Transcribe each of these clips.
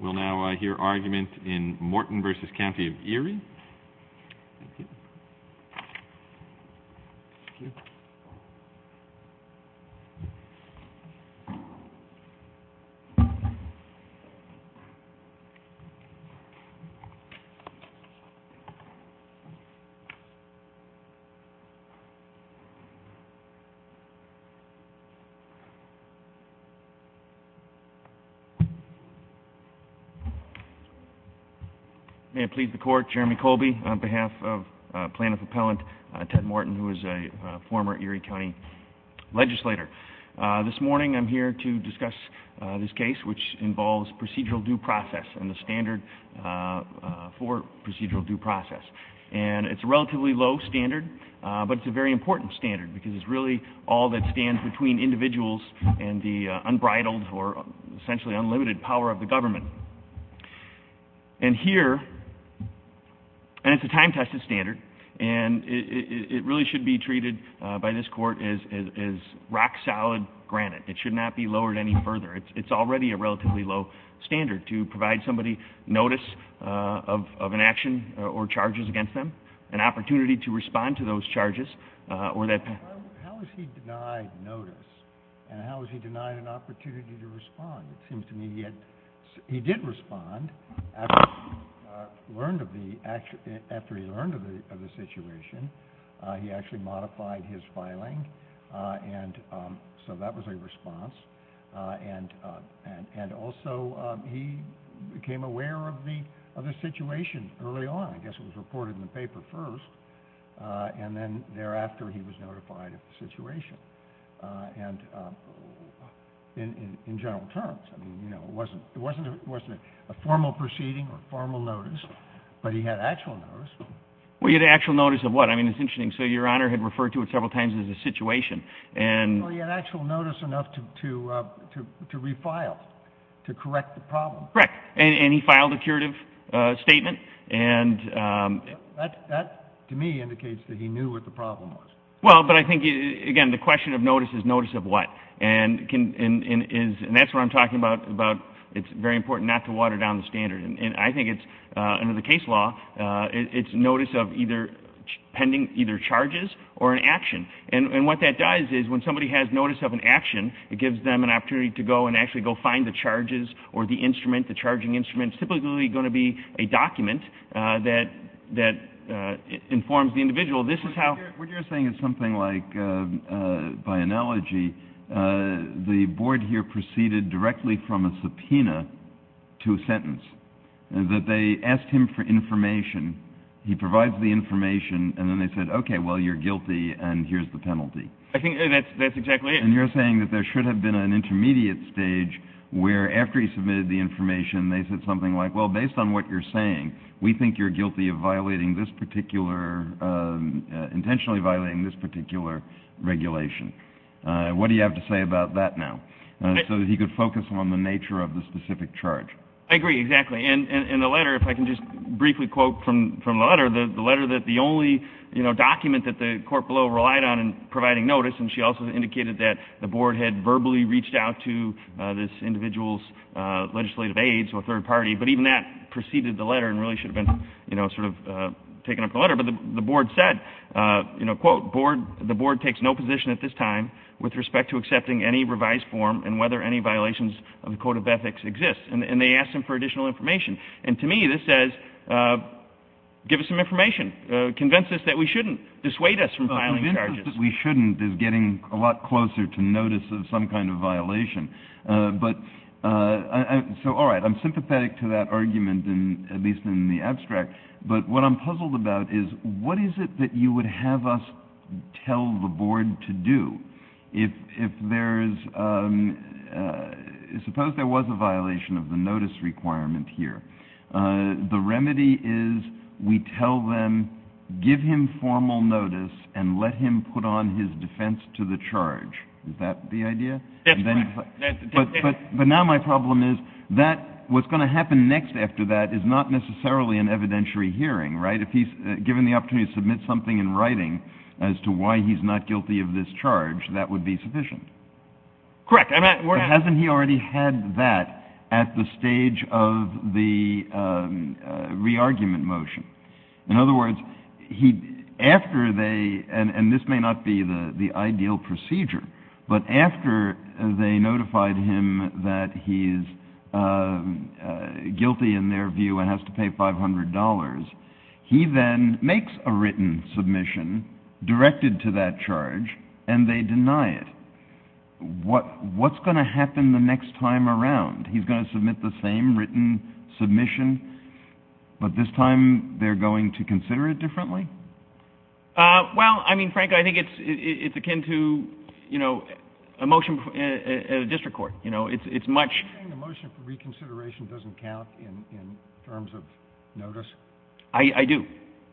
We'll now hear argument in Morton v. County of Erie. May it please the Court, Jeremy Colby on behalf of Plaintiff Appellant Ted Morton who is a former Erie County legislator. This morning I'm here to discuss this case which involves procedural due process and the standard for procedural due process. It's a relatively low standard but it's a very important standard because it's really all that stands between individuals and the unbridled or essentially unlimited power of the government. It's a time-tested standard and it really should be treated by this Court as rock-solid granite. It should not be lowered any further. It's already a relatively low standard to provide somebody notice of an action or charges against them, an opportunity to respond to those charges. How is he denied notice and how is he denied an opportunity to respond? It seems to me he did respond after he learned of the situation. He actually modified his filing and so that was a response. And also he became aware of the situation early on. I guess it was reported in the paper first and then thereafter he was notified of the situation in general terms. It wasn't a formal proceeding or formal notice but he had actual notice. Well he had actual notice of what? I mean it's interesting. So Your Honor had referred to it several times as a situation. Well he had actual notice enough to refile, to correct the problem. Correct. And he filed a curative statement. That to me indicates that he knew what the problem was. Well but I think again the question of notice is notice of what? And that's what I'm talking about. It's very important not to water down the standard. And I think under the case law it's notice of either charges or an action. And what that does is when somebody has notice of an action it gives them an opportunity to go and actually go find the charges or the instrument, the charging instrument. It's typically going to be a document that informs the individual. What you're saying is something like by analogy the board here proceeded directly from a subpoena to a sentence. That they asked him for information. He provides the information and then they said okay well you're guilty and here's the penalty. I think that's exactly it. And you're saying that there should have been an intermediate stage where after he submitted the information they said something like well based on what you're saying we think you're guilty of intentionally violating this particular regulation. What do you have to say about that now? So that he could focus on the nature of the specific charge. I agree exactly. And the letter if I can just briefly quote from the letter. The letter that the only document that the court below relied on in providing notice and she also indicated that the board had verbally reached out to this individual's legislative aides or third party. But even that preceded the letter and really should have been taken up in the letter. But the board said quote the board takes no position at this time with respect to accepting any revised form and whether any violations of the code of ethics exist. And they asked him for additional information. And to me this says give us some information. Convince us that we shouldn't. Dissuade us from filing charges. Convince us that we shouldn't is getting a lot closer to notice of some kind of violation. But so all right I'm sympathetic to that argument at least in the abstract. But what I'm puzzled about is what is it that you would have us tell the board to do. If there is suppose there was a violation of the notice requirement here. The remedy is we tell them give him formal notice and let him put on his defense to the charge. Is that the idea? That's correct. But now my problem is that what's going to happen next after that is not necessarily an evidentiary hearing. Right? If he's given the opportunity to submit something in writing as to why he's not guilty of this charge that would be sufficient. Correct. But hasn't he already had that at the stage of the re-argument motion? In other words, after they and this may not be the ideal procedure. But after they notified him that he's guilty in their view and has to pay $500. He then makes a written submission directed to that charge and they deny it. What's going to happen the next time around? He's going to submit the same written submission, but this time they're going to consider it differently? Well, I mean, Frank, I think it's akin to, you know, a motion at a district court. You know, it's much. You're saying the motion for reconsideration doesn't count in terms of notice? I do.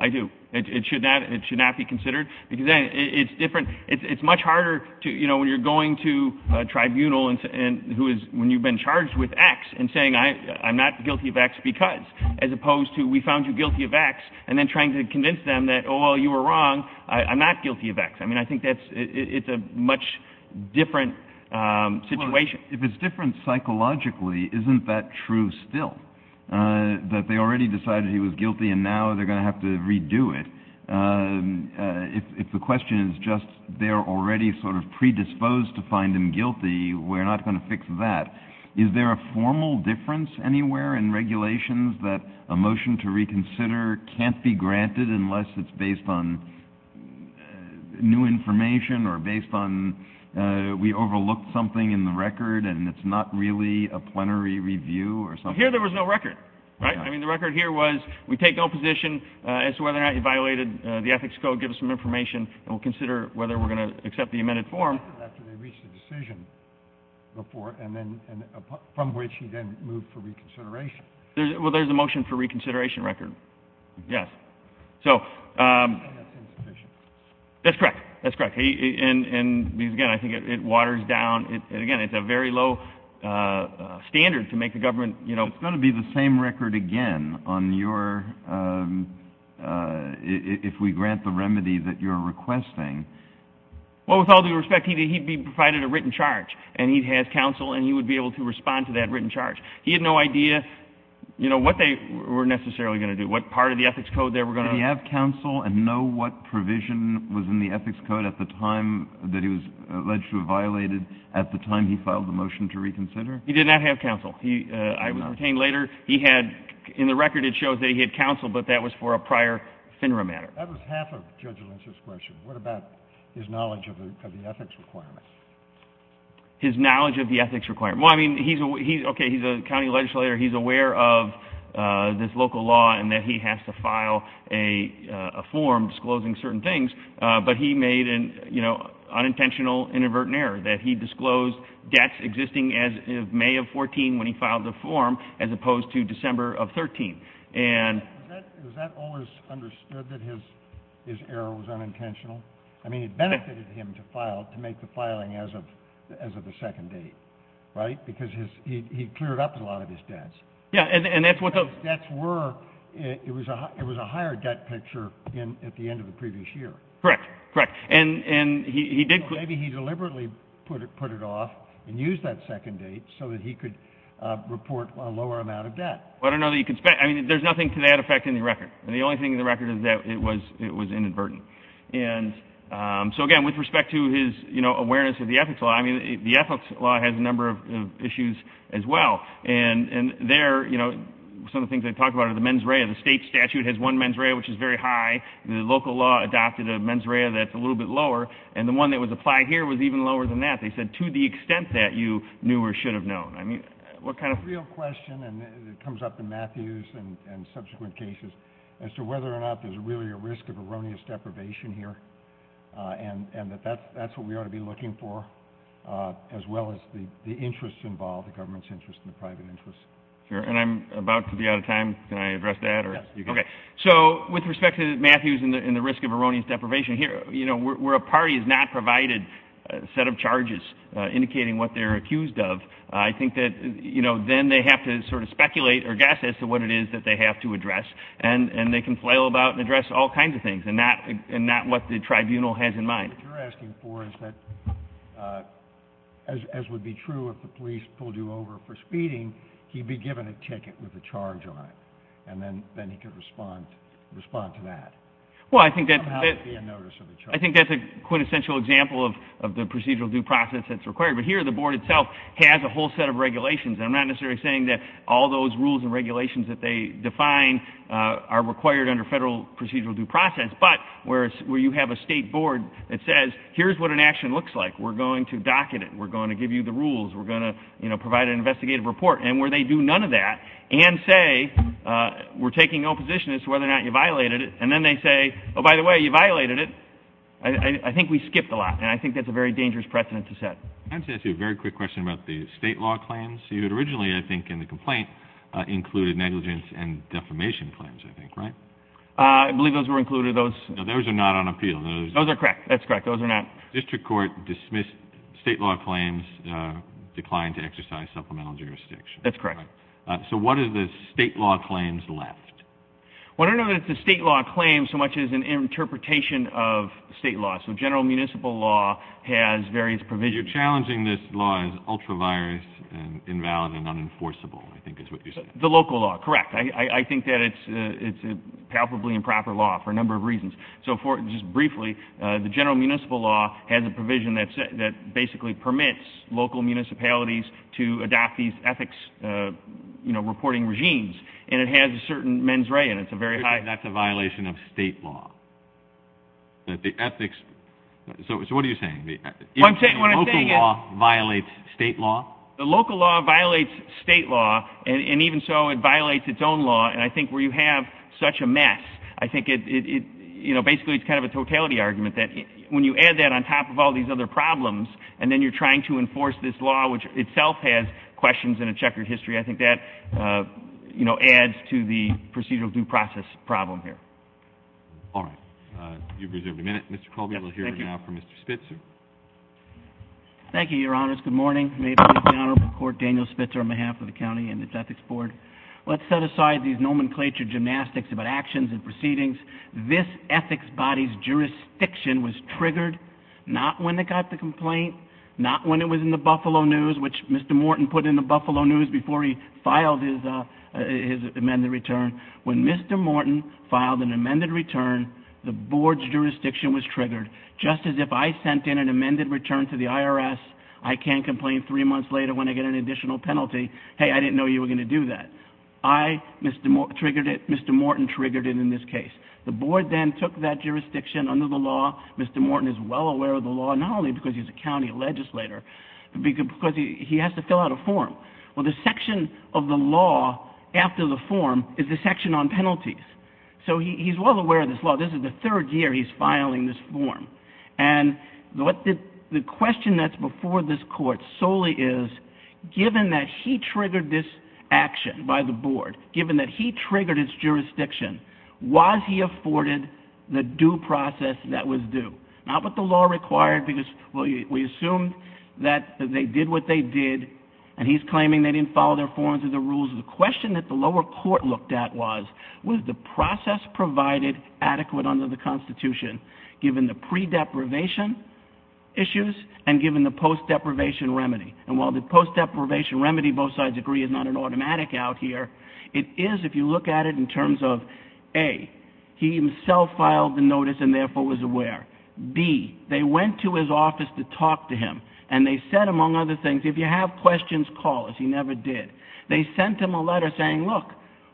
I do. It should not be considered because it's different. It's much harder, you know, when you're going to a tribunal when you've been charged with X and saying I'm not guilty of X because, as opposed to we found you guilty of X and then trying to convince them that, oh, well, you were wrong. I'm not guilty of X. I mean, I think it's a much different situation. If it's different psychologically, isn't that true still? That they already decided he was guilty and now they're going to have to redo it? If the question is just they're already sort of predisposed to find him guilty, we're not going to fix that. Is there a formal difference anywhere in regulations that a motion to reconsider can't be granted unless it's based on new information or based on we overlooked something in the record and it's not really a plenary review or something? Here there was no record, right? I mean, the record here was we take no position as to whether or not you violated the ethics code, give us some information, and we'll consider whether we're going to accept the amended form. Well, there's a motion for reconsideration record. Yes. So that's correct. That's correct. And, again, I think it waters down. It's going to be the same record again on your – if we grant the remedy that you're requesting. Well, with all due respect, he'd be provided a written charge, and he has counsel, and he would be able to respond to that written charge. He had no idea, you know, what they were necessarily going to do, what part of the ethics code they were going to – Did he have counsel and know what provision was in the ethics code at the time that he was alleged to have violated at the time he filed the motion to reconsider? He did not have counsel. I would retain later he had – in the record it shows that he had counsel, but that was for a prior FINRA matter. That was half of Judge Lynch's question. What about his knowledge of the ethics requirement? His knowledge of the ethics requirement. Well, I mean, he's – okay, he's a county legislator. He's aware of this local law and that he has to file a form disclosing certain things, but he made an, you know, unintentional inadvertent error that he disclosed debts existing as of May of 14 when he filed the form as opposed to December of 13. And – Was that always understood that his error was unintentional? I mean, it benefited him to file, to make the filing as of the second date, right? Because he cleared up a lot of his debts. Yeah, and that's what those – It was a higher debt picture at the end of the previous year. Correct. Correct. And he did – Maybe he deliberately put it off and used that second date so that he could report a lower amount of debt. Well, I don't know that you can – I mean, there's nothing to that effect in the record. And the only thing in the record is that it was inadvertent. And so, again, with respect to his, you know, awareness of the ethics law, I mean, the ethics law has a number of issues as well. And there, you know, some of the things I talked about are the mens rea. The state statute has one mens rea, which is very high. The local law adopted a mens rea that's a little bit lower. And the one that was applied here was even lower than that. They said, to the extent that you knew or should have known. I mean, what kind of – A real question, and it comes up in Matthews and subsequent cases, as to whether or not there's really a risk of erroneous deprivation here, and that that's what we ought to be looking for, as well as the interest involved, the government's interest and the private interest. Sure, and I'm about to be out of time. Can I address that? Yes, you can. Okay. So with respect to Matthews and the risk of erroneous deprivation here, you know, where a party has not provided a set of charges indicating what they're accused of, I think that, you know, then they have to sort of speculate or guess as to what it is that they have to address. And they can flail about and address all kinds of things, and not what the tribunal has in mind. What you're asking for is that, as would be true if the police pulled you over for speeding, he'd be given a ticket with a charge on it, and then he could respond to that. Well, I think that's a quintessential example of the procedural due process that's required. But here the board itself has a whole set of regulations. And I'm not necessarily saying that all those rules and regulations that they define are required under federal procedural due process. But where you have a state board that says, here's what an action looks like, we're going to docket it, we're going to give you the rules, we're going to, you know, provide an investigative report, and where they do none of that and say we're taking no position as to whether or not you violated it, and then they say, oh, by the way, you violated it, I think we skipped a lot. And I think that's a very dangerous precedent to set. I wanted to ask you a very quick question about the state law claims. You had originally, I think, in the complaint included negligence and defamation claims, I think, right? I believe those were included. No, those are not on appeal. Those are correct. That's correct. Those are not. The district court dismissed state law claims, declined to exercise supplemental jurisdiction. That's correct. So what are the state law claims left? Well, I don't know that it's a state law claim so much as an interpretation of state law. So general municipal law has various provisions. You're challenging this law as ultra-virus and invalid and unenforceable, I think is what you're saying. The local law, correct. I think that it's a palpably improper law for a number of reasons. So just briefly, the general municipal law has a provision that basically permits local municipalities to adopt these ethics, you know, reporting regimes, and it has a certain mens rea. That's a violation of state law. The ethics, so what are you saying? The local law violates state law? The local law violates state law, and even so, it violates its own law. And I think where you have such a mess, I think it, you know, basically it's kind of a totality argument that when you add that on top of all these other problems and then you're trying to enforce this law, which itself has questions and a checkered history, I think that, you know, adds to the procedural due process problem here. All right. You've reserved a minute. Mr. Colby, we'll hear now from Mr. Spitzer. Thank you, Your Honors. Good morning. May it please the Honorable Court, Daniel Spitzer on behalf of the county and its ethics board. Let's set aside these nomenclature gymnastics about actions and proceedings. This ethics body's jurisdiction was triggered not when it got the complaint, not when it was in the Buffalo News, which Mr. Morton put in the Buffalo News before he filed his amended return. When Mr. Morton filed an amended return, the board's jurisdiction was triggered. Just as if I sent in an amended return to the IRS, I can't complain three months later when I get an additional penalty, hey, I didn't know you were going to do that. I triggered it. Mr. Morton triggered it in this case. The board then took that jurisdiction under the law. Mr. Morton is well aware of the law, not only because he's a county legislator, but because he has to fill out a form. Well, the section of the law after the form is the section on penalties. So he's well aware of this law. This is the third year he's filing this form. And the question that's before this court solely is, given that he triggered this action by the board, given that he triggered its jurisdiction, was he afforded the due process that was due? Not what the law required because we assumed that they did what they did and he's claiming they didn't follow their forms or the rules. The question that the lower court looked at was, was the process provided adequate under the Constitution given the pre-deprivation issues and given the post-deprivation remedy? And while the post-deprivation remedy, both sides agree, is not an automatic out here, it is if you look at it in terms of, A, he himself filed the notice and therefore was aware. B, they went to his office to talk to him and they said, among other things, if you have questions, call us. He never did. They sent him a letter saying, look,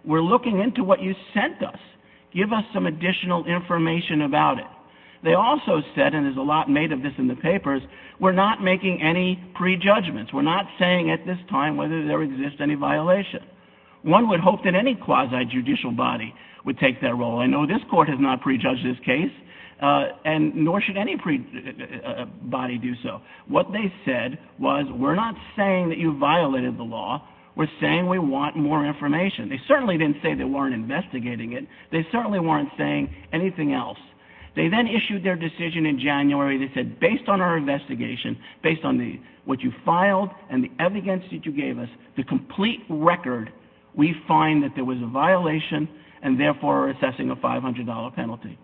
we're looking into what you sent us. Give us some additional information about it. They also said, and there's a lot made of this in the papers, we're not making any prejudgments. We're not saying at this time whether there exists any violation. One would hope that any quasi-judicial body would take that role. I know this court has not prejudged this case and nor should any body do so. What they said was, we're not saying that you violated the law. We're saying we want more information. They certainly didn't say they weren't investigating it. They certainly weren't saying anything else. They then issued their decision in January that said, based on our investigation, based on what you filed and the evidence that you gave us, the complete record, we find that there was a violation and therefore are assessing a $500 penalty.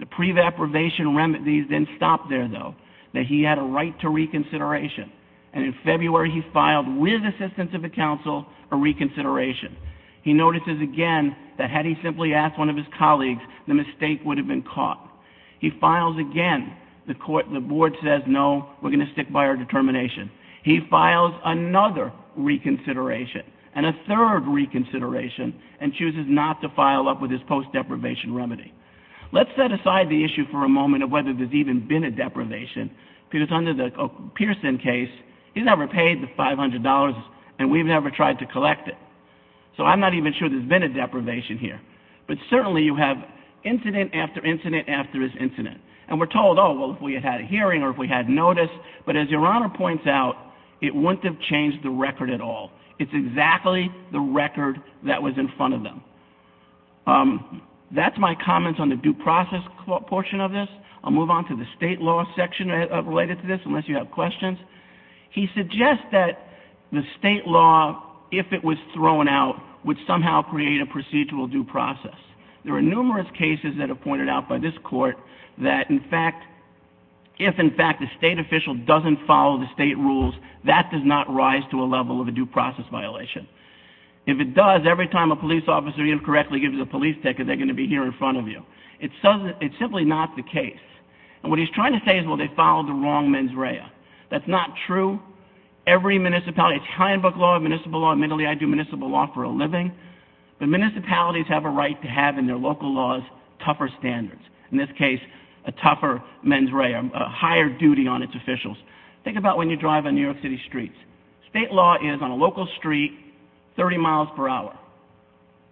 The pre-deprivation remedies then stopped there, though, that he had a right to reconsideration. And in February, he filed with assistance of the counsel a reconsideration. He notices again that had he simply asked one of his colleagues, the mistake would have been caught. He files again. The board says, no, we're going to stick by our determination. He files another reconsideration and a third reconsideration and chooses not to file up with his post-deprivation remedy. Let's set aside the issue for a moment of whether there's even been a deprivation because under the Pearson case, he's never paid the $500 and we've never tried to collect it. So I'm not even sure there's been a deprivation here. But certainly you have incident after incident after incident. And we're told, oh, well, if we had a hearing or if we had notice. But as Your Honor points out, it wouldn't have changed the record at all. It's exactly the record that was in front of them. That's my comments on the due process portion of this. I'll move on to the state law section related to this unless you have questions. He suggests that the state law, if it was thrown out, would somehow create a procedural due process. There are numerous cases that are pointed out by this court that, in fact, if, in fact, the state official doesn't follow the state rules, that does not rise to a level of a due process violation. If it does, every time a police officer incorrectly gives a police ticket, they're going to be here in front of you. It's simply not the case. And what he's trying to say is, well, they followed the wrong mens rea. That's not true. Every municipality, it's Highland Park law, municipal law. Admittedly, I do municipal law for a living. But municipalities have a right to have in their local laws tougher standards. In this case, a tougher mens rea, a higher duty on its officials. Think about when you drive on New York City streets. State law is, on a local street, 30 miles per hour.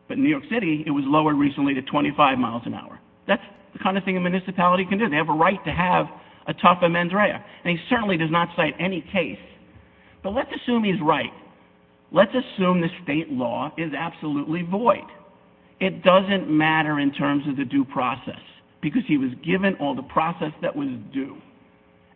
But in New York City, it was lowered recently to 25 miles an hour. That's the kind of thing a municipality can do. They have a right to have a tougher mens rea. And he certainly does not cite any case. But let's assume he's right. Let's assume the state law is absolutely void. It doesn't matter in terms of the due process, because he was given all the process that was due,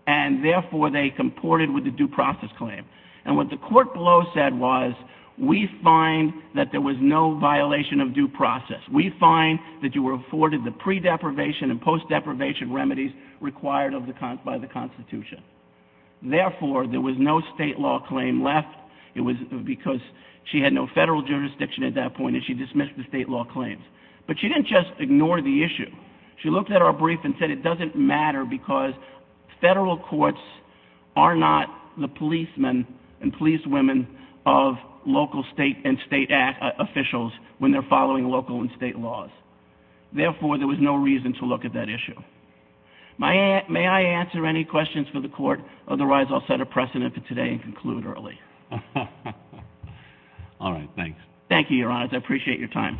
and therefore they comported with the due process claim. And what the court below said was, we find that there was no violation of due process. We find that you were afforded the pre-deprivation and post-deprivation remedies required by the Constitution. Therefore, there was no state law claim left. It was because she had no federal jurisdiction at that point, and she dismissed the state law claims. But she didn't just ignore the issue. She looked at our brief and said it doesn't matter because federal courts are not the policemen and policewomen of local state and state officials when they're following local and state laws. Therefore, there was no reason to look at that issue. May I answer any questions for the court? Otherwise, I'll set a precedent for today and conclude early. All right. Thanks. Thank you, Your Honor. I appreciate your time.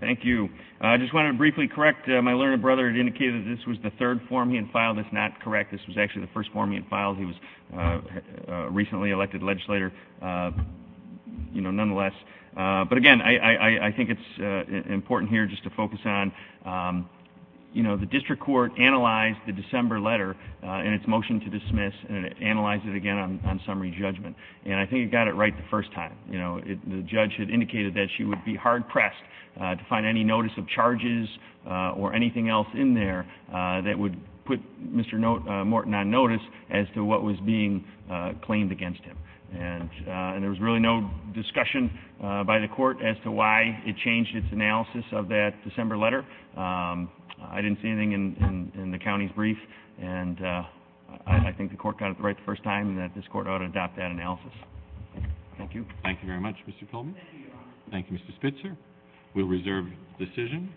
Thank you. I just want to briefly correct. My learned brother had indicated that this was the third form he had filed. That's not correct. This was actually the first form he had filed. He was a recently elected legislator, you know, nonetheless. But, again, I think it's important here just to focus on, you know, the district court analyzed the December letter and its motion to dismiss and it analyzed it again on summary judgment. And I think it got it right the first time. You know, the judge had indicated that she would be hard-pressed to find any notice of charges or anything else in there that would put Mr. Morton on notice as to what was being claimed against him. And there was really no discussion by the court as to why it changed its analysis of that December letter. I didn't see anything in the county's brief, and I think the court got it right the first time that this court ought to adopt that analysis. Thank you. Thank you very much, Mr. Colby. Thank you, Mr. Spitzer. We'll reserve the decision.